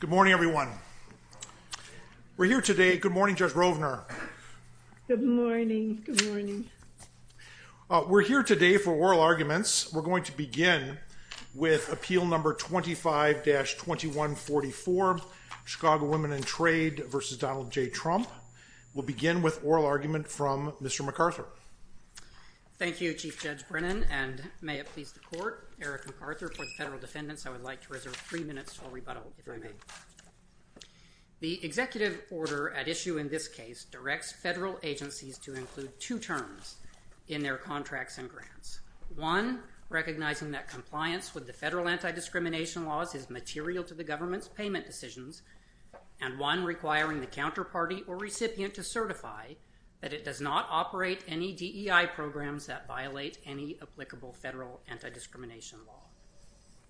Good morning, everyone. We're here today. Good morning, Judge Rovner. Good morning. Good morning. We're here today for oral arguments. We're going to begin with appeal number 25-2144, Chicago Women in Trade v. Donald J. Trump. We'll begin with oral argument from Mr. McArthur. Thank you, Chief Judge Brennan, and may it please the Court, Eric McArthur. For the federal defendants, I would like to reserve three minutes to all rebuttal, if I may. The executive order at issue in this case directs federal agencies to include two terms in their contracts and grants. One, recognizing that compliance with the federal anti-discrimination laws is material to the government's payment decisions, and one requiring the counterparty or recipient to certify that it does not operate any DEI programs that violate any applicable federal anti-discrimination law.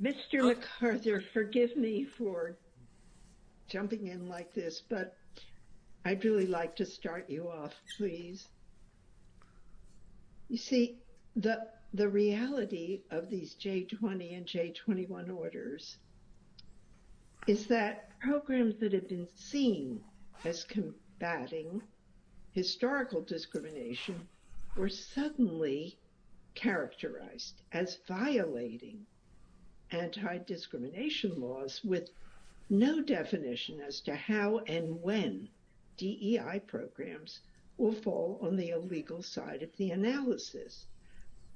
Mr. McArthur, forgive me for jumping in like this, but I'd really like to start you off, please. You see, the reality of these J20 and J21 orders is that programs that have been seen as combating historical discrimination were suddenly characterized as violating anti-discrimination laws with no definition as to how and when DEI programs will fall on the illegal side of the analysis.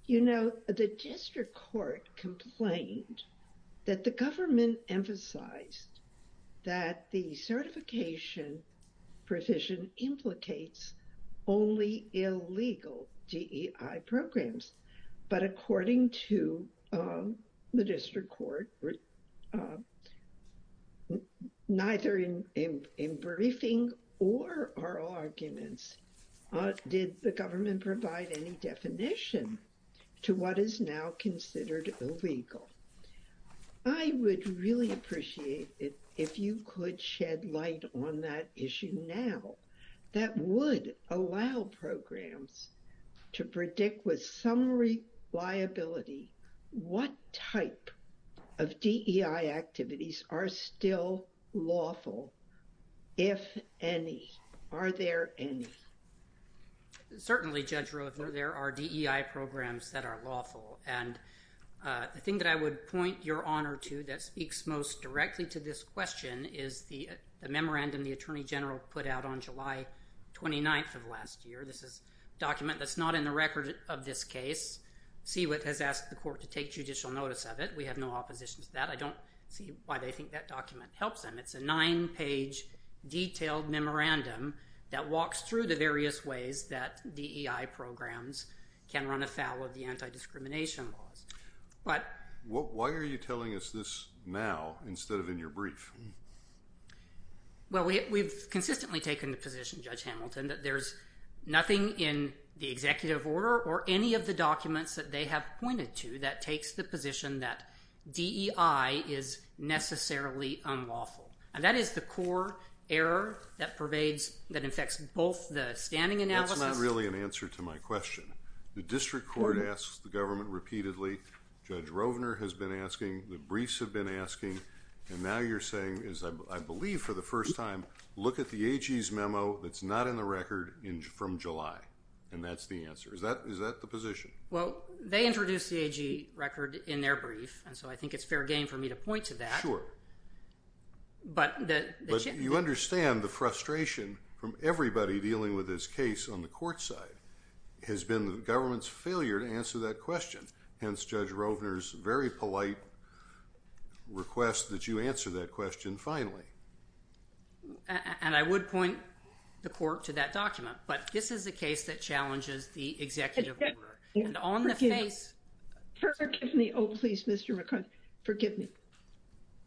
You know, the district court complained that the government emphasized that the certification provision implicates only illegal DEI programs, but according to the district court, neither in briefing or oral arguments did the government provide any definition to what is now considered illegal. I would really appreciate it if you could shed light on that issue now that would allow programs to predict with some reliability what type of DEI activities are still lawful, if any. Are there any? Certainly, Judge Rovner, there are DEI programs that are lawful. And the thing that I would point your honor to that speaks most directly to this question is the memorandum the Attorney General put out on July 29th of last year. This is a document that's not in the record of this case. CWIT has asked the court to take judicial notice of it. We have no opposition to that. I don't see why they think that document helps them. It's a nine-page detailed memorandum that walks through the various ways that DEI programs can run afoul of the anti-discrimination laws. Why are you telling us this now instead of in your brief? Well, we've consistently taken the position, Judge Hamilton, that there's nothing in the executive order or any of the documents that they have pointed to that takes the position that DEI is necessarily unlawful. And that is the core error that pervades, that affects both the standing analysis. That's not really an answer to my question. The district court asks the government repeatedly. Judge Rovner has been asking. The briefs have been asking. And now you're saying, as I believe for the first time, look at the AG's memo that's not in the record from July. And that's the answer. Is that the position? Well, they introduced the AG record in their brief, and so I think it's fair game for me to point to that. But you understand the frustration from everybody dealing with this case on the court side has been the government's failure to answer that question. Hence, Judge Rovner's very polite request that you answer that question finally. And I would point the court to that document. But this is a case that challenges the executive order. Forgive me. Oh, please, Mr. McCarty. Forgive me.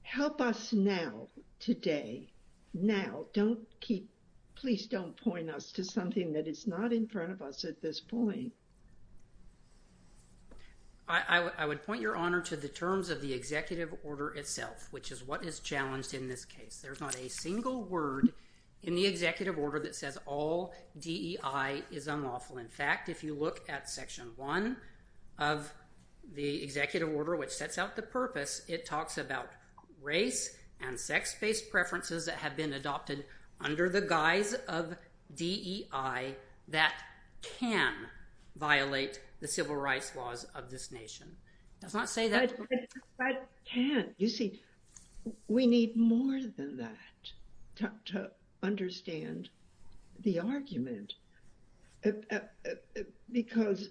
Help us now, today. Now. Don't keep. Please don't point us to something that is not in front of us at this point. I would point your honor to the terms of the executive order itself, which is what is challenged in this case. There's not a single word in the executive order that says all DEI is unlawful. In fact, if you look at Section 1 of the executive order, which sets out the purpose, it talks about race and sex-based preferences that have been adopted under the guise of DEI that can violate the civil rights laws of this nation. It does not say that. But can. You see, we need more than that to understand the argument. Because,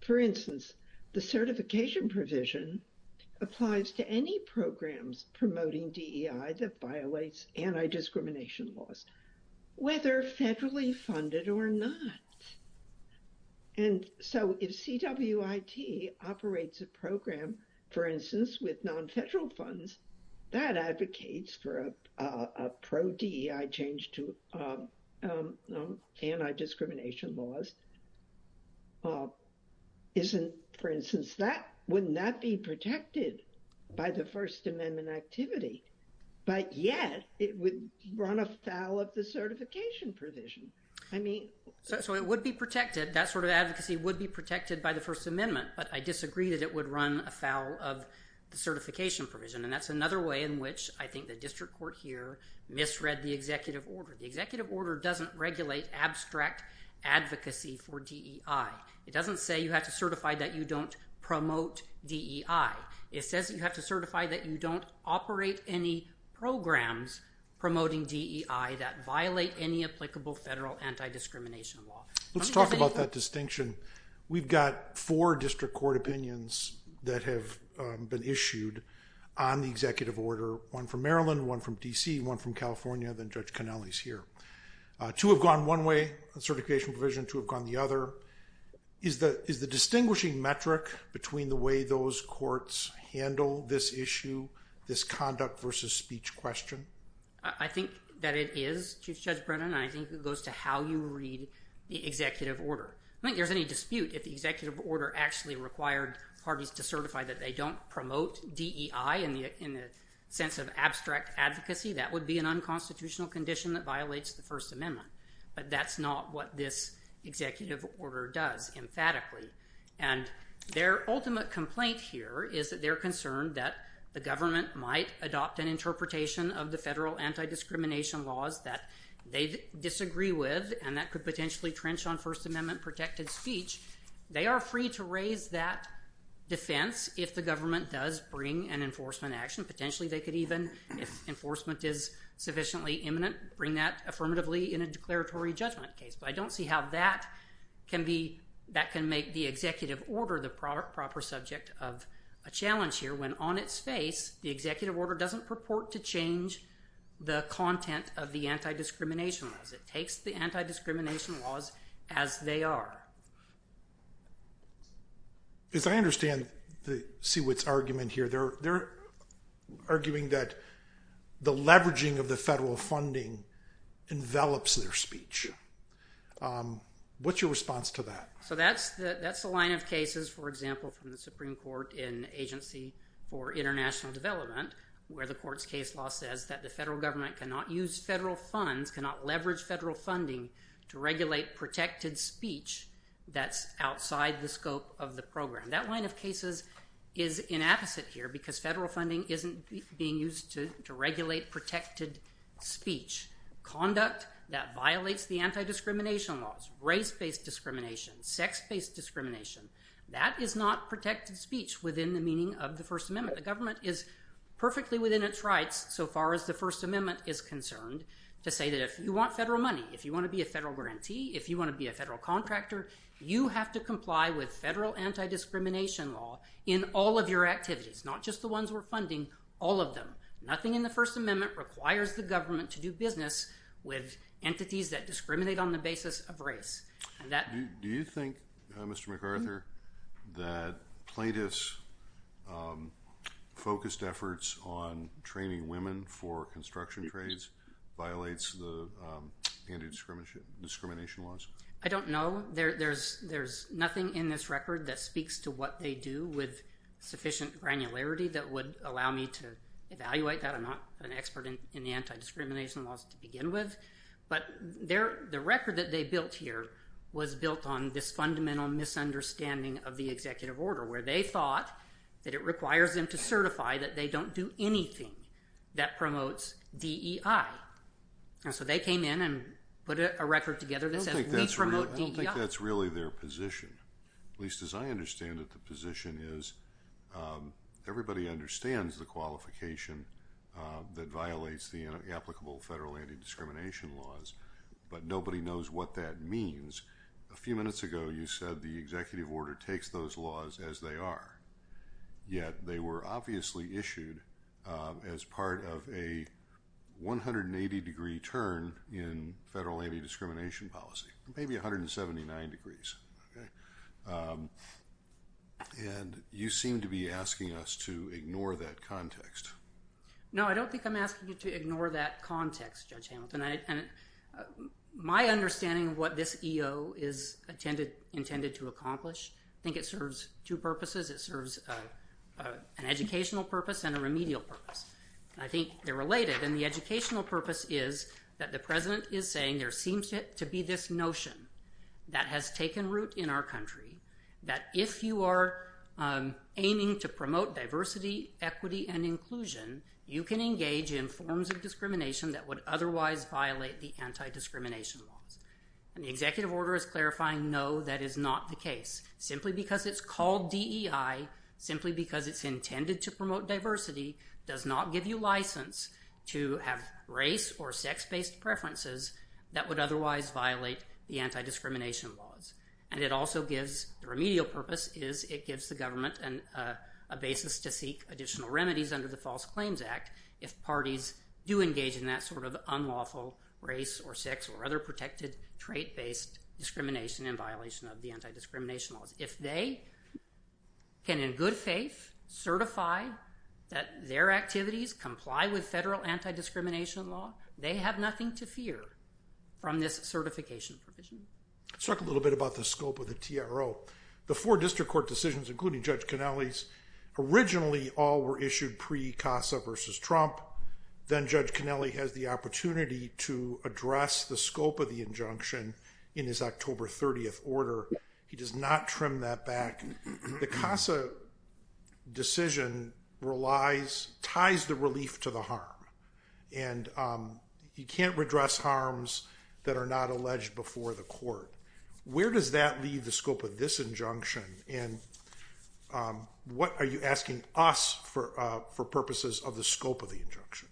for instance, the certification provision applies to any programs promoting DEI that violates anti-discrimination laws, whether federally funded or not. And so if CWIT operates a program, for instance, with non-federal funds, that advocates for a pro-DEI change to anti-discrimination laws. For instance, wouldn't that be protected by the First Amendment activity? But yet it would run afoul of the certification provision. So it would be protected. That sort of advocacy would be protected by the First Amendment. But I disagree that it would run afoul of the certification provision. And that's another way in which I think the district court here misread the executive order. The executive order doesn't regulate abstract advocacy for DEI. It doesn't say you have to certify that you don't promote DEI. It says you have to certify that you don't operate any programs promoting DEI that violate any applicable federal anti-discrimination law. Let's talk about that distinction. We've got four district court opinions that have been issued on the executive order, one from Maryland, one from D.C., one from California. Then Judge Cannelli's here. Two have gone one way, the certification provision. Two have gone the other. Is the distinguishing metric between the way those courts handle this issue, this conduct versus speech question? I think that it is, Chief Judge Brennan, and I think it goes to how you read the executive order. I don't think there's any dispute if the executive order actually required parties to certify that they don't promote DEI in the sense of abstract advocacy. That would be an unconstitutional condition that violates the First Amendment. But that's not what this executive order does emphatically. And their ultimate complaint here is that they're concerned that the government might adopt an interpretation of the federal anti-discrimination laws that they disagree with, and that could potentially trench on First Amendment-protected speech. They are free to raise that defense if the government does bring an enforcement action. Potentially they could even, if enforcement is sufficiently imminent, bring that affirmatively in a declaratory judgment case. But I don't see how that can make the executive order the proper subject of a challenge here, when on its face the executive order doesn't purport to change the content of the anti-discrimination laws. It takes the anti-discrimination laws as they are. As I understand Siewit's argument here, they're arguing that the leveraging of the federal funding envelops their speech. What's your response to that? So that's the line of cases, for example, from the Supreme Court in Agency for International Development, where the court's case law says that the federal government cannot use federal funds, cannot leverage federal funding, to regulate protected speech that's outside the scope of the program. That line of cases is inapposite here, because federal funding isn't being used to regulate protected speech. Conduct that violates the anti-discrimination laws, race-based discrimination, sex-based discrimination, that is not protected speech within the meaning of the First Amendment. The government is perfectly within its rights, so far as the First Amendment is concerned, to say that if you want federal money, if you want to be a federal grantee, if you want to be a federal contractor, you have to comply with federal anti-discrimination law in all of your activities, not just the ones we're funding, all of them. Nothing in the First Amendment requires the government to do business with entities that discriminate on the basis of race. Do you think, Mr. MacArthur, that plaintiffs' focused efforts on training women for construction trades violates the anti-discrimination laws? I don't know. There's nothing in this record that speaks to what they do with sufficient granularity that would allow me to evaluate that. I'm not an expert in anti-discrimination laws to begin with. But the record that they built here was built on this fundamental misunderstanding of the executive order, where they thought that it requires them to certify that they don't do anything that promotes DEI. And so they came in and put a record together that says we promote DEI. I don't think that's really their position. At least as I understand it, the position is everybody understands the qualification that violates the applicable federal anti-discrimination laws, but nobody knows what that means. A few minutes ago, you said the executive order takes those laws as they are, yet they were obviously issued as part of a 180-degree turn in federal anti-discrimination policy, maybe 179 degrees. And you seem to be asking us to ignore that context. No, I don't think I'm asking you to ignore that context, Judge Hamilton. My understanding of what this EO is intended to accomplish, I think it serves two purposes. It serves an educational purpose and a remedial purpose. I think they're related. And the educational purpose is that the president is saying there seems to be this notion that has taken root in our country, that if you are aiming to promote diversity, equity, and inclusion, you can engage in forms of discrimination that would otherwise violate the anti-discrimination laws. And the executive order is clarifying, no, that is not the case, simply because it's called DEI, simply because it's intended to promote diversity does not give you license to have race or sex-based preferences that would otherwise violate the anti-discrimination laws. And it also gives, the remedial purpose is it gives the government a basis to seek additional remedies under the False Claims Act if parties do engage in that sort of unlawful race or sex or other protected trait-based discrimination in violation of the anti-discrimination laws. If they can, in good faith, certify that their activities comply with federal anti-discrimination law, they have nothing to fear from this certification provision. Let's talk a little bit about the scope of the TRO. The four district court decisions, including Judge Kennelly's, originally all were issued pre-CASA versus Trump. Then Judge Kennelly has the opportunity to address the scope of the injunction in his October 30th order. He does not trim that back. The CASA decision relies, ties the relief to the harm. And he can't redress harms that are not alleged before the court. Where does that leave the scope of this injunction? And what are you asking us for purposes of the scope of the injunction?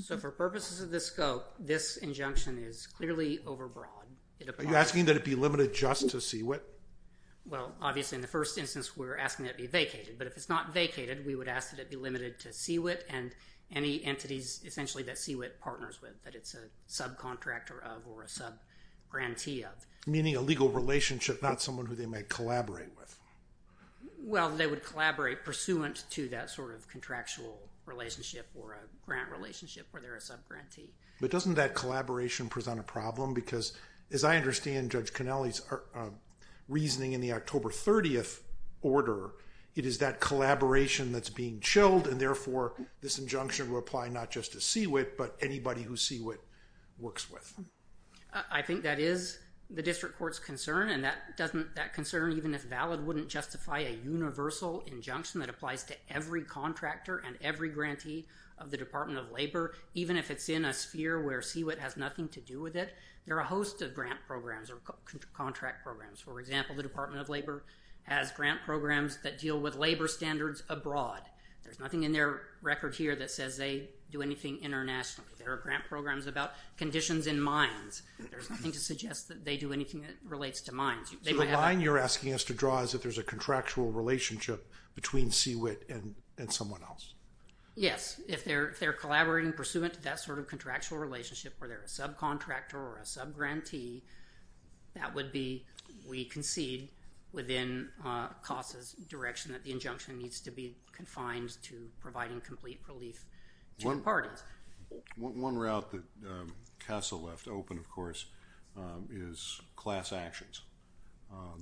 So for purposes of the scope, this injunction is clearly overbroad. Are you asking that it be limited just to CWIT? Well, obviously, in the first instance, we're asking that it be vacated. But if it's not vacated, we would ask that it be limited to CWIT and any entities, essentially, that CWIT partners with, that it's a subcontractor of or a subgrantee of. Meaning a legal relationship, not someone who they might collaborate with. Well, they would collaborate pursuant to that sort of contractual relationship or a grant relationship where they're a subgrantee. But doesn't that collaboration present a problem? Because as I understand Judge Connelly's reasoning in the October 30th order, it is that collaboration that's being chilled, and therefore this injunction will apply not just to CWIT but anybody who CWIT works with. I think that is the district court's concern. And that concern, even if valid, wouldn't justify a universal injunction that applies to every contractor and every grantee of the Department of Labor, even if it's in a sphere where CWIT has nothing to do with it. There are a host of grant programs or contract programs. For example, the Department of Labor has grant programs that deal with labor standards abroad. There's nothing in their record here that says they do anything internationally. There are grant programs about conditions in mines. There's nothing to suggest that they do anything that relates to mines. So the line you're asking us to draw is that there's a contractual relationship between CWIT and someone else. Yes. If they're collaborating pursuant to that sort of contractual relationship where they're a subcontractor or a subgrantee, that would be we concede within CASA's direction that the injunction needs to be confined to providing complete relief to the parties. One route that CASA left open, of course, is class actions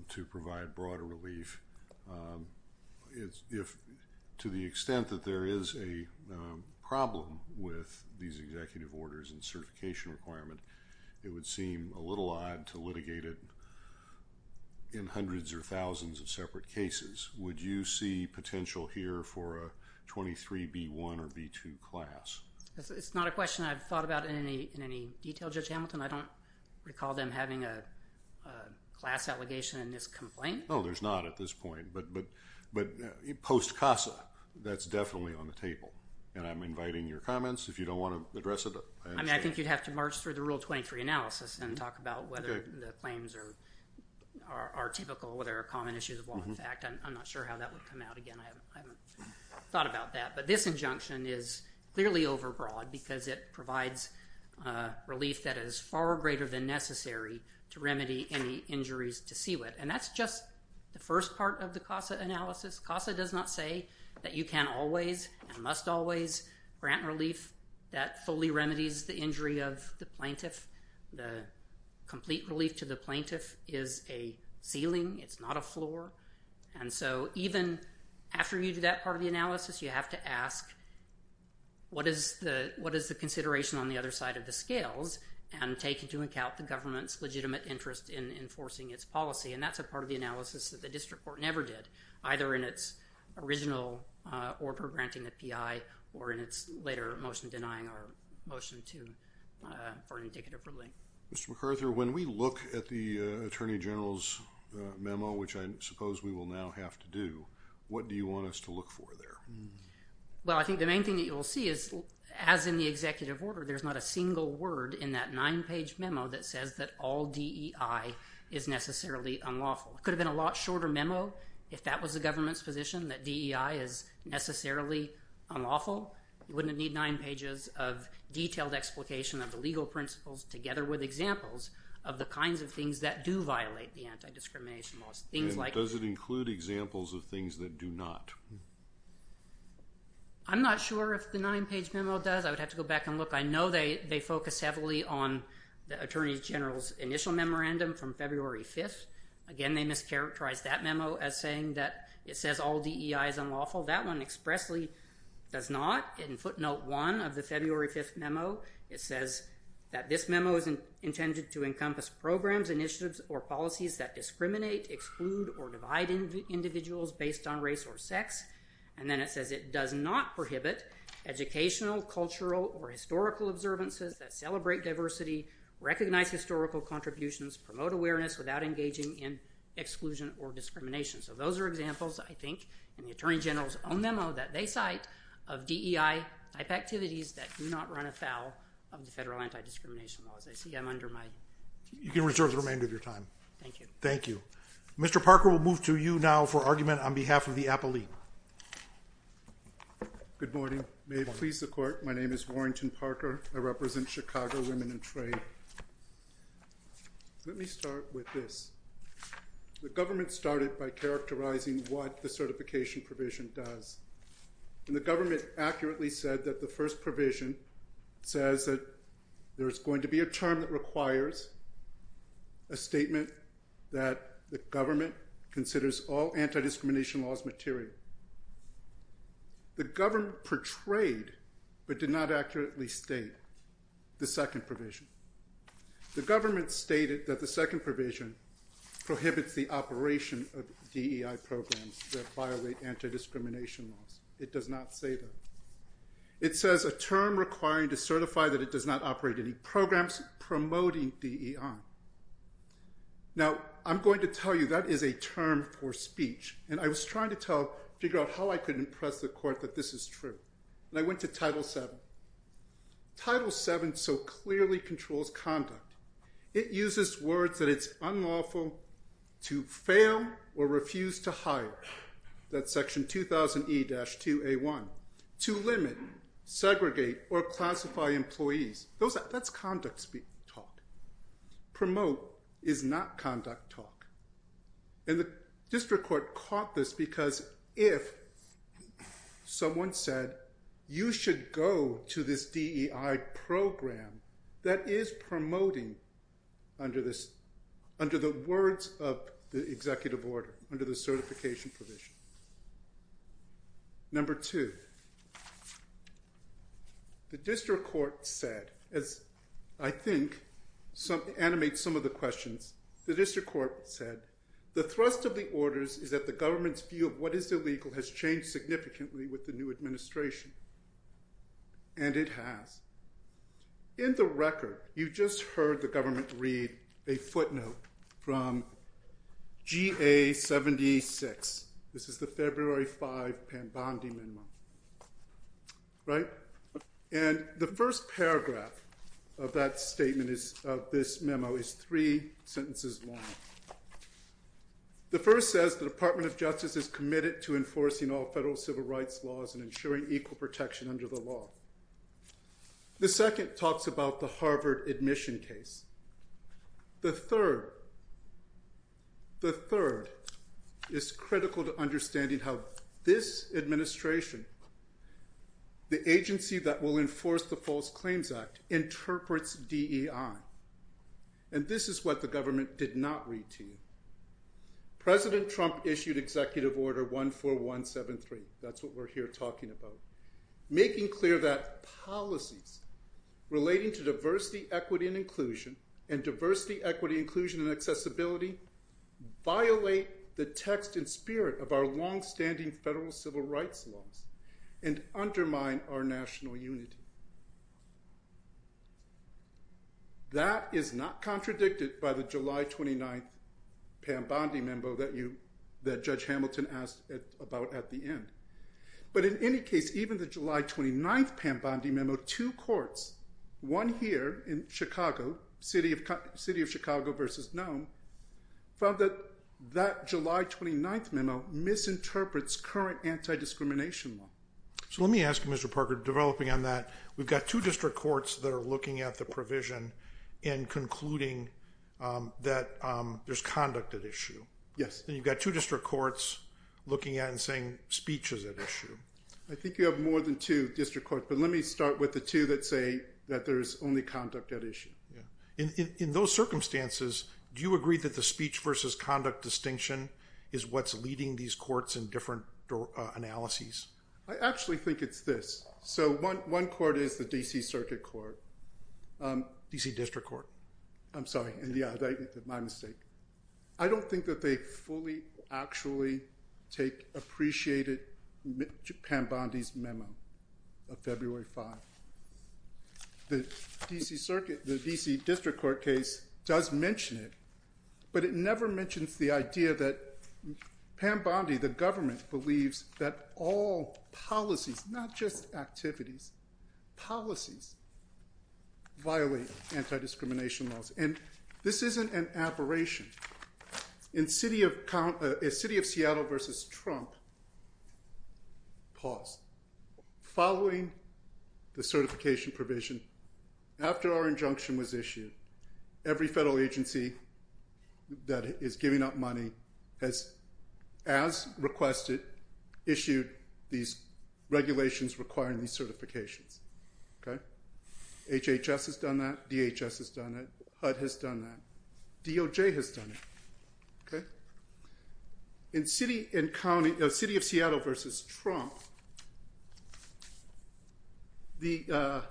to provide broader relief. To the extent that there is a problem with these executive orders and certification requirement, it would seem a little odd to litigate it in hundreds or thousands of separate cases. Would you see potential here for a 23B1 or B2 class? It's not a question I've thought about in any detail, Judge Hamilton. I don't recall them having a class allegation in this complaint. No, there's not at this point. But post-CASA, that's definitely on the table. And I'm inviting your comments if you don't want to address it. I think you'd have to march through the Rule 23 analysis and talk about whether the claims are typical, whether there are common issues of law and fact. I'm not sure how that would come out. Again, I haven't thought about that. But this injunction is clearly overbroad because it provides relief that is far greater than necessary to remedy any injuries to CWIT. And that's just the first part of the CASA analysis. CASA does not say that you can always and must always grant relief that fully remedies the injury of the plaintiff. The complete relief to the plaintiff is a ceiling. It's not a floor. And so even after you do that part of the analysis, you have to ask what is the consideration on the other side of the scales and take into account the government's legitimate interest in enforcing its policy. And that's a part of the analysis that the district court never did, either in its original order granting the PEI or in its later motion denying our motion for an indicative relief. Mr. McArthur, when we look at the Attorney General's memo, which I suppose we will now have to do, what do you want us to look for there? Well, I think the main thing that you'll see is, as in the executive order, there's not a single word in that nine-page memo that says that all DEI is necessarily unlawful. It could have been a lot shorter memo if that was the government's position, that DEI is necessarily unlawful. You wouldn't need nine pages of detailed explication of the legal principles, together with examples of the kinds of things that do violate the anti-discrimination laws. And does it include examples of things that do not? I'm not sure if the nine-page memo does. I would have to go back and look. I know they focus heavily on the Attorney General's initial memorandum from February 5th. Again, they mischaracterized that memo as saying that it says all DEI is unlawful. That one expressly does not. In footnote 1 of the February 5th memo, it says that this memo is intended to encompass programs, initiatives, or policies that discriminate, exclude, or divide individuals based on race or sex. And then it says it does not prohibit educational, cultural, or historical observances that celebrate diversity, recognize historical contributions, promote awareness without engaging in exclusion or discrimination. So those are examples, I think, in the Attorney General's own memo that they cite of DEI-type activities that do not run afoul of the federal anti-discrimination laws. I see I'm under my time. You can reserve the remainder of your time. Thank you. Thank you. Mr. Parker will move to you now for argument on behalf of the appellee. Good morning. May it please the Court. My name is Warrington Parker. I represent Chicago Women in Trade. Let me start with this. The government started by characterizing what the certification provision does. And the government accurately said that the first provision says that there is going to be a term that requires a statement that the government considers all anti-discrimination laws material. The government portrayed, but did not accurately state, the second provision. The government stated that the second provision prohibits the operation of DEI programs that violate anti-discrimination laws. It does not say that. It says a term requiring to certify that it does not operate any programs promoting DEI. Now, I'm going to tell you that is a term for speech. And I was trying to figure out how I could impress the Court that this is true. And I went to Title VII. Title VII so clearly controls conduct. It uses words that it's unlawful to fail or refuse to hire. That's section 2000E-2A1. To limit, segregate, or classify employees. That's conduct talk. Promote is not conduct talk. And the District Court caught this because if someone said, you should go to this DEI program that is promoting under the words of the executive order, under the certification provision. Number two. The District Court said, as I think animates some of the questions, the District Court said, the thrust of the orders is that the government's view of what is illegal has changed significantly with the new administration. And it has. In the record, you just heard the government read a footnote from GA-76. This is the February 5 Pambandi memo. Right? And the first paragraph of that statement, of this memo, is three sentences long. The first says, the Department of Justice is committed to enforcing all federal civil rights laws and ensuring equal protection under the law. The second talks about the Harvard admission case. The third. The third is critical to understanding how this administration, the agency that will enforce the False Claims Act, interprets DEI. And this is what the government did not read to you. President Trump issued Executive Order 14173. That's what we're here talking about. Making clear that policies relating to diversity, equity, and inclusion, and diversity, equity, inclusion, and accessibility, violate the text and spirit of our longstanding federal civil rights laws and undermine our national unity. That is not contradicted by the July 29 Pambandi memo that you, that Judge Hamilton asked about at the end. But in any case, even the July 29 Pambandi memo, two courts, one here in Chicago, City of Chicago versus Nome, found that that July 29 memo misinterprets current anti-discrimination law. So let me ask you, Mr. Parker, developing on that, we've got two district courts that are looking at the provision and concluding that there's conduct at issue. Yes. And you've got two district courts looking at and saying speech is at issue. I think you have more than two district courts, but let me start with the two that say that there's only conduct at issue. In those circumstances, do you agree that the speech versus conduct distinction is what's leading these courts in different analyses? I actually think it's this. So one court is the D.C. Circuit Court. D.C. District Court. I'm sorry, my mistake. I don't think that they fully actually take appreciated Pambandi's memo of February 5. The D.C. Circuit, the D.C. District Court case does mention it, but it never mentions the idea that Pambandi, the government, believes that all policies, not just activities, policies violate anti-discrimination laws. And this isn't an aberration. In City of Seattle versus Trump, pause. Following the certification provision, after our injunction was issued, every federal agency that is giving up money has, as requested, issued these regulations requiring these certifications. Okay? HHS has done that. DHS has done that. HUD has done that. DOJ has done it. In City of Seattle versus Trump, the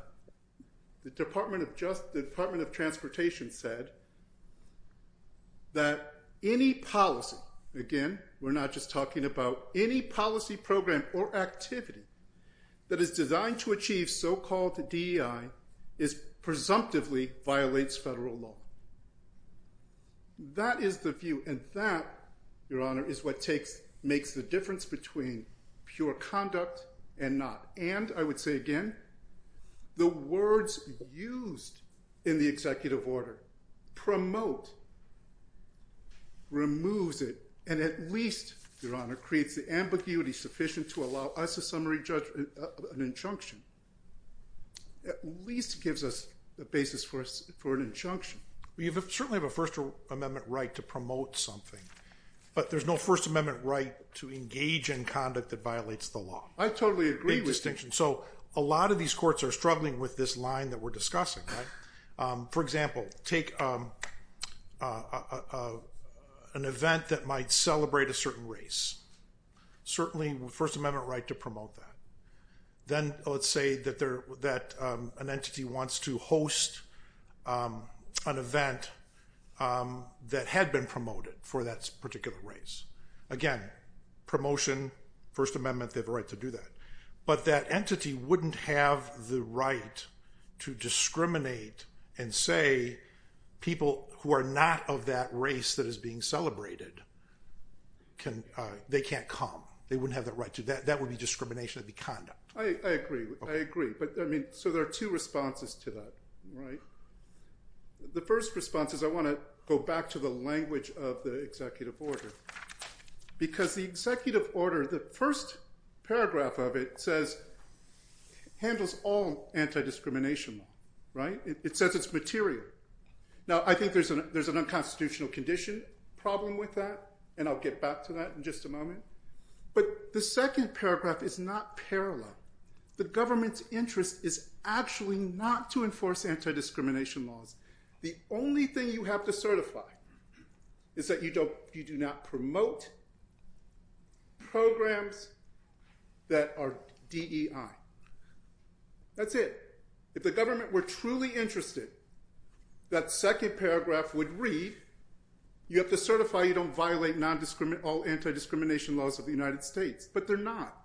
Department of Transportation said that any policy, again, we're not just talking about any policy program or activity that is designed to achieve so-called DEI presumptively violates federal law. That is the view, and that, Your Honor, is what makes the difference between pure conduct and not. And, I would say again, the words used in the executive order promote, removes it, and at least, Your Honor, creates the ambiguity sufficient to allow us a summary injunction. At least gives us a basis for an injunction. We certainly have a First Amendment right to promote something, but there's no First Amendment right to engage in conduct that violates the law. I totally agree with you. So, a lot of these courts are struggling with this line that we're discussing, right? For example, take an event that might celebrate a certain race. Certainly, First Amendment right to promote that. Then, let's say that an entity wants to host an event that had been promoted for that particular race. Again, promotion, First Amendment, they have a right to do that. But that entity wouldn't have the right to discriminate and say, people who are not of that race that is being celebrated, they can't come. They wouldn't have the right to. That would be discrimination of the conduct. I agree. I agree. So, there are two responses to that, right? The first response is I want to go back to the language of the executive order because the executive order, the first paragraph of it says, handles all anti-discrimination law, right? It says it's material. Now, I think there's an unconstitutional condition problem with that, and I'll get back to that in just a moment. But the second paragraph is not parallel. The government's interest is actually not to enforce anti-discrimination laws. The only thing you have to certify is that you do not promote programs that are DEI. That's it. If the government were truly interested, that second paragraph would read, you have to certify you don't violate all anti-discrimination laws of the United States. But they're not.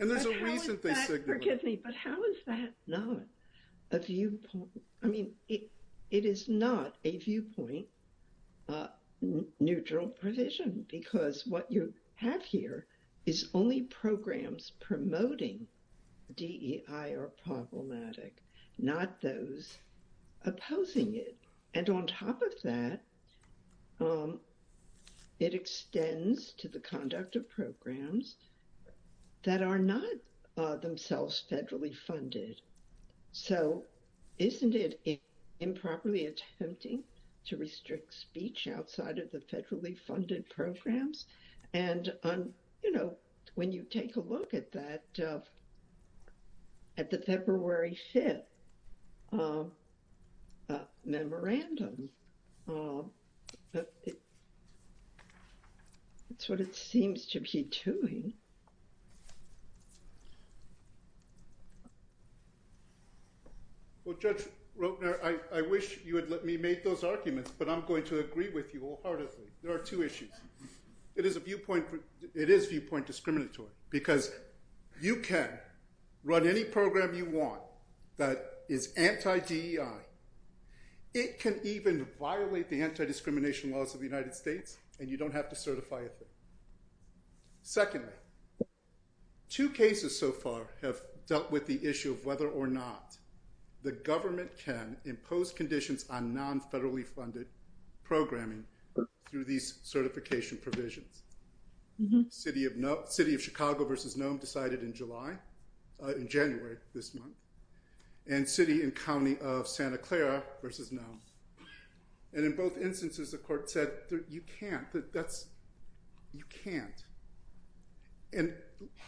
And there's a reason they signaled that. But how is that not a viewpoint? I mean, it is not a viewpoint neutral provision because what you have here is only programs promoting DEI are problematic, not those opposing it. And on top of that, it extends to the conduct of programs that are not themselves federally funded. So, isn't it improperly attempting to restrict speech outside of the federally funded programs? And, you know, when you take a look at that, at the February 5th memorandum, it's what it seems to be doing. Well, Judge Rotner, I wish you had let me make those arguments, but I'm going to agree with you wholeheartedly. There are two issues. It is viewpoint discriminatory because you can run any program you want that is anti-DEI. It can even violate the anti-discrimination laws of the United States and you don't have to certify it. Secondly, two cases so far have dealt with the issue of whether or not the government can impose conditions on non-federally funded programming through these certification provisions. City of Chicago versus Nome decided in July, in January this month, and City and County of Santa Clara versus Nome. And in both instances, the court said, you can't. You can't. And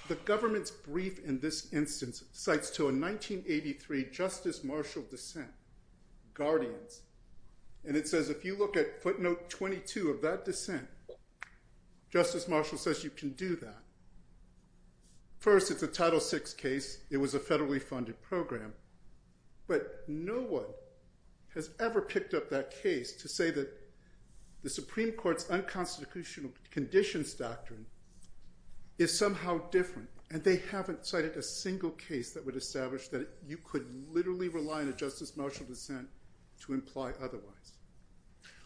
the government's brief in this instance cites to a 1983 Justice Marshall dissent, Guardians, and it says if you look at footnote 22 of that dissent, Justice Marshall says you can do that. First, it's a Title VI case. It was a federally funded program. But no one has ever picked up that case to say that the Supreme Court's unconstitutional conditions doctrine is somehow different. And they haven't cited a single case that would establish that you could literally rely on a Justice Marshall dissent to imply otherwise.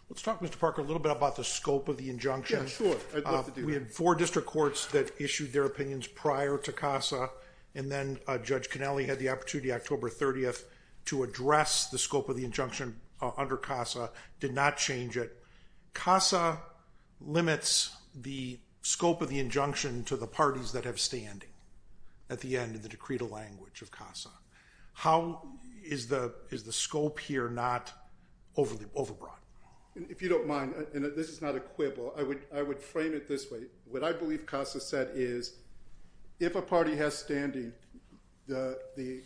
Let's talk, Mr. Parker, a little bit about the scope of the injunction. Yeah, sure. We had four district courts that issued their opinions prior to CASA and then Judge Connelly had the opportunity October 30th to address the scope of the injunction under CASA, did not change it. CASA limits the scope of the injunction to the parties that have standing at the end of the decreed language of CASA. How is the scope here not overbroad? If you don't mind, and this is not a quibble, I would frame it this way. What I believe CASA said is if a party has standing, the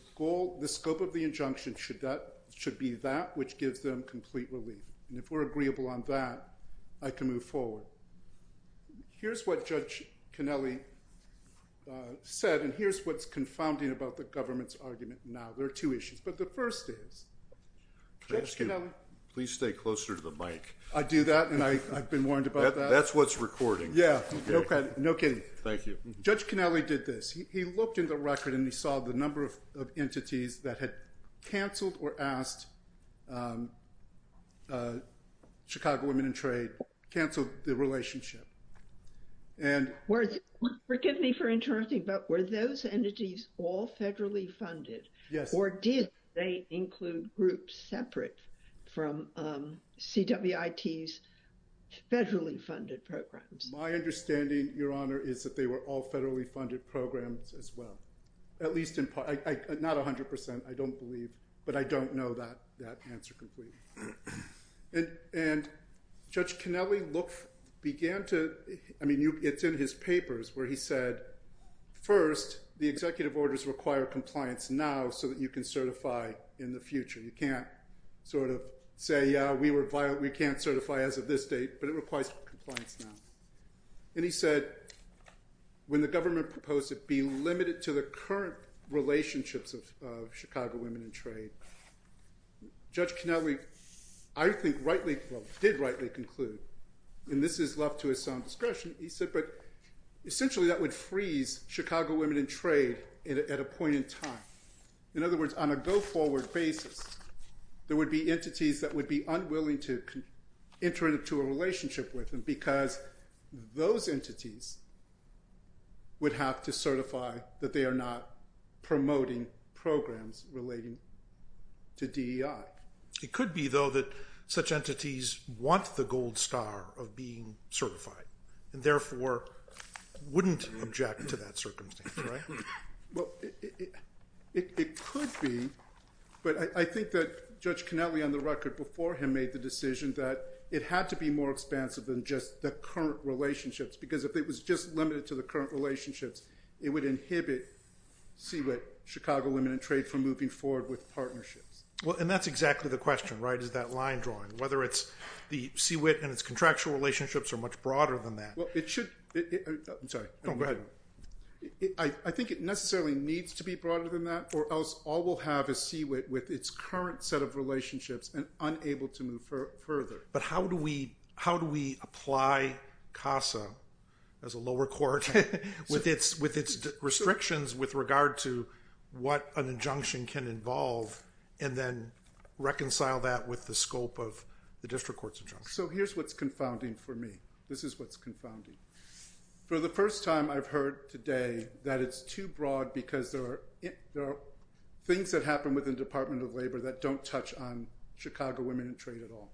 scope of the injunction should be that which gives them complete relief. And if we're agreeable on that, I can move forward. Here's what Judge Connelly said and here's what's confounding about the government's argument now. There are two issues, but the first is, Judge Connelly. Can I ask you, please stay closer to the mic. I do that and I've been warned about that. That's what's recording. Yeah, no kidding. Thank you. Judge Connelly did this. He looked in the record and he saw the number of entities that had canceled or asked Chicago Women in Trade, canceled the relationship. Forgive me for interrupting, but were those entities all federally funded? Yes. Or did they include groups separate from CWIT's federally funded programs? My understanding, Your Honor, is that they were all federally funded programs as well. Not 100%, I don't believe, but I don't know that answer completely. Judge Connelly began to, I mean, it's in his papers where he said, first, the executive orders require compliance now so that you can certify in the future. You can't sort of say, yeah, we can't certify as of this date, but it requires compliance now. And he said, when the government proposed it be limited to the current relationships of Chicago Women in Trade, Judge Connelly, I think rightly, well, did rightly conclude, and this is left to his own discretion, he said, but essentially that would freeze Chicago Women in Trade at a point in time. In other words, on a go-forward basis, there would be entities that would be unwilling to enter into a relationship with them because those entities would have to certify that they are not promoting programs relating to DEI. It could be, though, that such entities want the gold star of being certified and therefore wouldn't object to that circumstance, right? Well, it could be, but I think that Judge Connelly, on the record before him, made the decision that it had to be more expansive than just the current relationships because if it was just limited to the current relationships, it would inhibit CWIT, Chicago Women in Trade, from moving forward with partnerships. Well, and that's exactly the question, right, is that line drawing, whether it's the CWIT and its contractual relationships are much broader than that. Well, it should... I'm sorry. Go ahead. I think it necessarily needs to be broader than that or else all we'll have is CWIT with its current set of relationships and unable to move further. But how do we apply CASA as a lower court with its restrictions with regard to what an injunction can involve and then reconcile that with the scope of the district court's injunction? So here's what's confounding for me. This is what's confounding. For the first time, I've heard today that it's too broad because there are things that happen within the Department of Labor that don't touch on Chicago Women in Trade at all.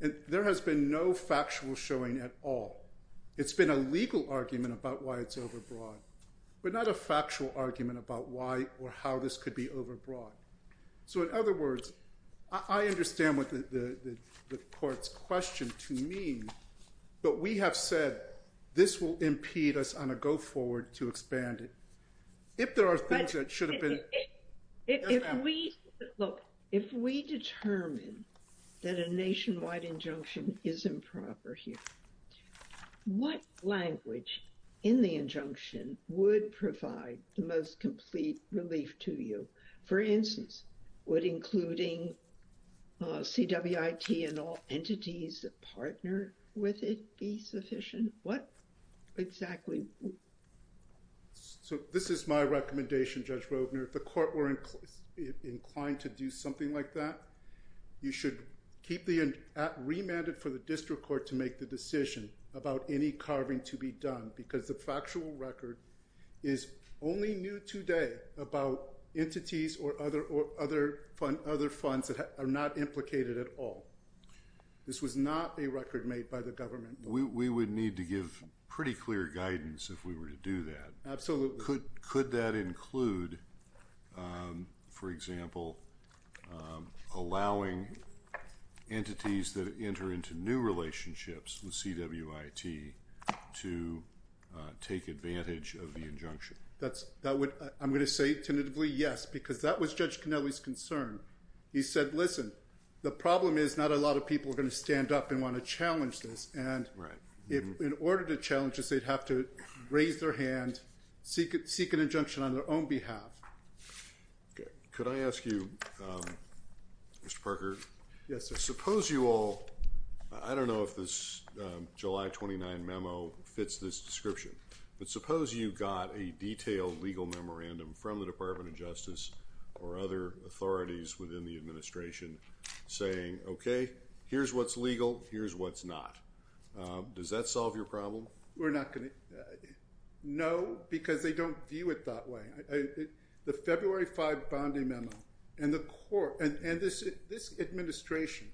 And there has been no factual showing at all. It's been a legal argument about why it's overbroad, but not a factual argument about why or how this could be overbroad. So in other words, I understand what the court's question to me, but we have said this will impede us on a go forward to expand it. If there are things that should have been... Look, if we determine that a nationwide injunction is improper here, what language in the injunction would provide the most complete relief to you? For instance, would including CWIT and all entities that partner with it be sufficient? What exactly? So this is my recommendation, Judge Rovner. If the court were inclined to do something like that, you should keep the remanded for the district court to make the decision about any carving to be done because the factual record is only new today about entities or other funds that are not implicated at all. This was not a record made by the government. We would need to give pretty clear guidance if we were to do that. Absolutely. Could that include, for example, allowing entities that enter into new relationships with CWIT to take advantage of the injunction? I'm going to say tentatively yes because that was Judge Canelli's concern. He said, listen, the problem is not a lot of people are going to stand up and want to challenge this and in order to challenge this, they'd have to raise their hand, seek an injunction on their own behalf. Could I ask you, Mr. Parker? Yes, sir. Suppose you all, I don't know if this July 29 memo fits this description, but suppose you got a detailed legal memorandum from the Department of Justice or other authorities within the administration saying, okay, here's what's legal, here's what's not. Does that solve your problem? We're not going to. No, because they don't view it that way. The February 5 Bondi memo and the court and this administration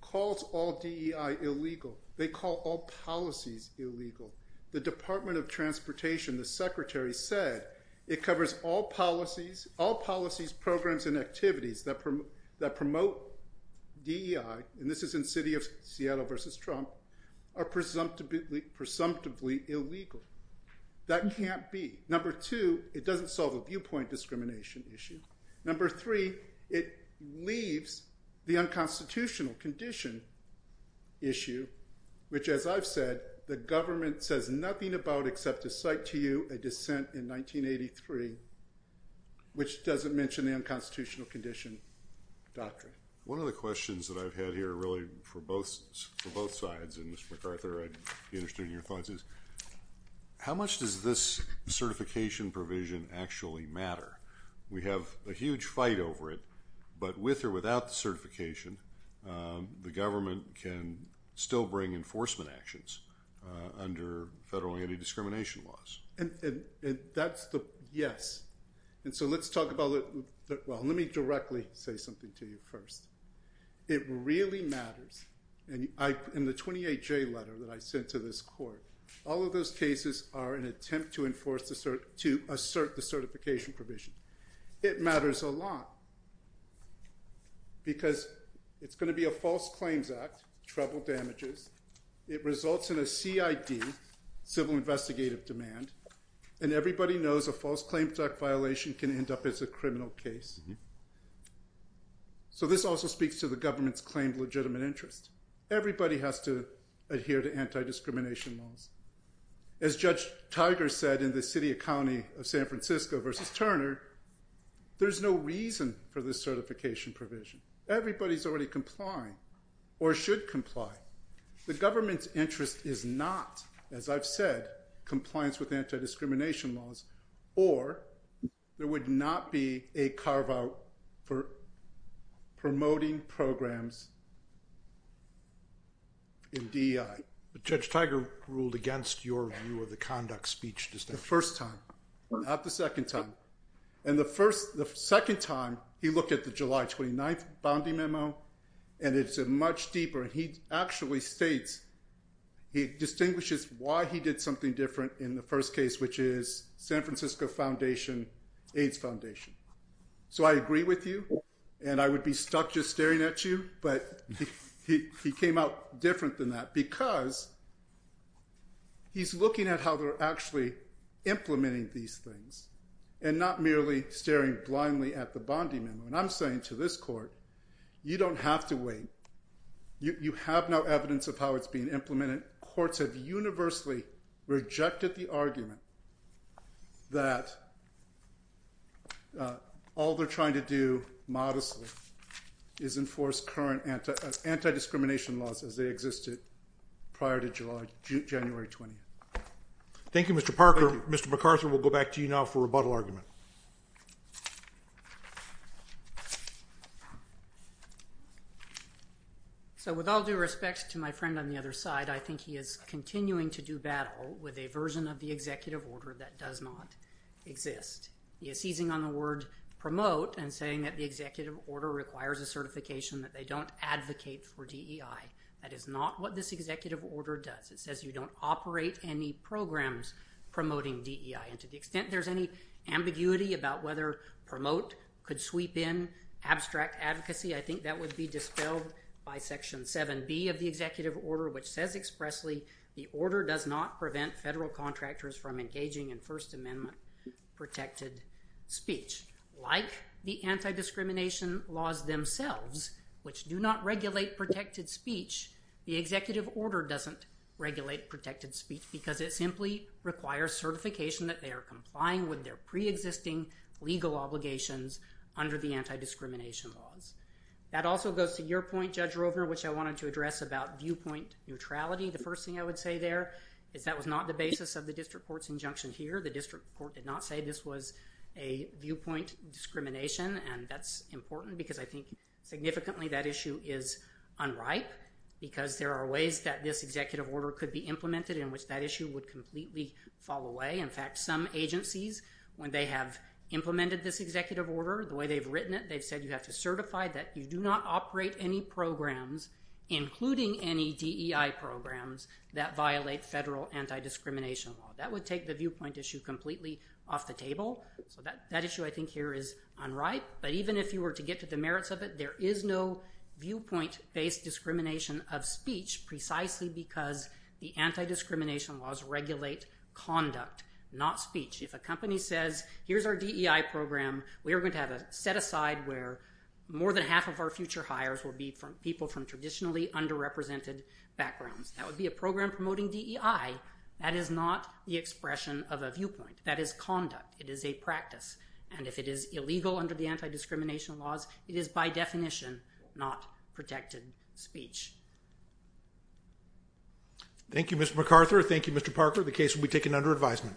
calls all DEI illegal. They call all policies illegal. The Department of Transportation, the secretary, said it covers all policies, programs, and activities that promote DEI, and this is in city of Seattle versus Trump, are presumptively illegal. That can't be. Number two, it doesn't solve a viewpoint discrimination issue. Number three, it leaves the unconstitutional condition issue, which as I've said, the government says nothing about except to cite to you a dissent in 1983 which doesn't mention the unconstitutional condition doctrine. One of the questions that I've had here really for both sides, and Mr. McArthur, I'd be interested in your thoughts, is how much does this certification provision actually matter? We have a huge fight over it, but with or without the certification, the government can still bring enforcement actions under federal anti-discrimination laws. That's the yes. Let me directly say something to you first. It really matters. In the 28J letter that I sent to this court, all of those cases are an attempt to assert the certification provision. It matters a lot because it's going to be a false claims act, trouble damages. It results in a CID, civil investigative demand, and everybody knows a false claims act violation can end up as a criminal case. So this also speaks to the government's claimed legitimate interest. Everybody has to adhere to anti-discrimination laws. As Judge Tiger said in the city and county of San Francisco versus Turner, there's no reason for this certification provision. Everybody's already complying or should comply. The government's interest is not, as I've said, compliance with anti-discrimination laws, or there would not be a carve-out for promoting programs in DEI. But Judge Tiger ruled against your view of the conduct speech distinction. The first time, not the second time. The second time, he looked at the July 29th bounty memo, and it's much deeper. He actually states, he distinguishes why he did something different in the first case, which is San Francisco Foundation, AIDS Foundation. So I agree with you, and I would be stuck just staring at you, but he came out different than that because he's looking at how they're actually implementing these things and not merely staring blindly at the bounty memo. And I'm saying to this court, you don't have to wait. You have no evidence of how it's being implemented. Courts have universally rejected the argument that all they're trying to do modestly is enforce current anti-discrimination laws as they existed prior to January 20th. Thank you, Mr. Parker. Mr. McArthur, we'll go back to you now for rebuttal argument. So with all due respect to my friend on the other side, I think he is continuing to do battle with a version of the executive order that does not exist. He is seizing on the word promote and saying that the executive order requires a certification that they don't advocate for DEI. That is not what this executive order does. It says you don't operate any programs promoting DEI. And to the extent there's any ambiguity about whether promote could sweep in abstract advocacy, I think that would be dispelled by Section 7B of the executive order, which says expressly, the order does not prevent federal contractors from engaging in First Amendment-protected speech. Like the anti-discrimination laws themselves, which do not regulate protected speech, the executive order doesn't regulate protected speech because it simply requires certification that they are complying with their preexisting legal obligations under the anti-discrimination laws. That also goes to your point, Judge Rovner, which I wanted to address about viewpoint neutrality. The first thing I would say there is that was not the basis of the district court's injunction here. The district court did not say this was a viewpoint discrimination, and that's important because I think significantly that issue is unripe. Because there are ways that this executive order could be implemented in which that issue would completely fall away. In fact, some agencies, when they have implemented this executive order, the way they've written it, they've said you have to certify that you do not operate any programs, including any DEI programs, that violate federal anti-discrimination law. That would take the viewpoint issue completely off the table. So that issue I think here is unripe. But even if you were to get to the merits of it, there is no viewpoint-based discrimination of speech precisely because the anti-discrimination laws regulate conduct, not speech. If a company says here's our DEI program, we are going to have a set-aside where more than half of our future hires will be people from traditionally underrepresented backgrounds. That would be a program promoting DEI. That is not the expression of a viewpoint. That is conduct. It is a practice. And if it is illegal under the anti-discrimination laws, it is by definition not protected speech. Thank you, Mr. McArthur. Thank you, Mr. Parker. The case will be taken under advisement.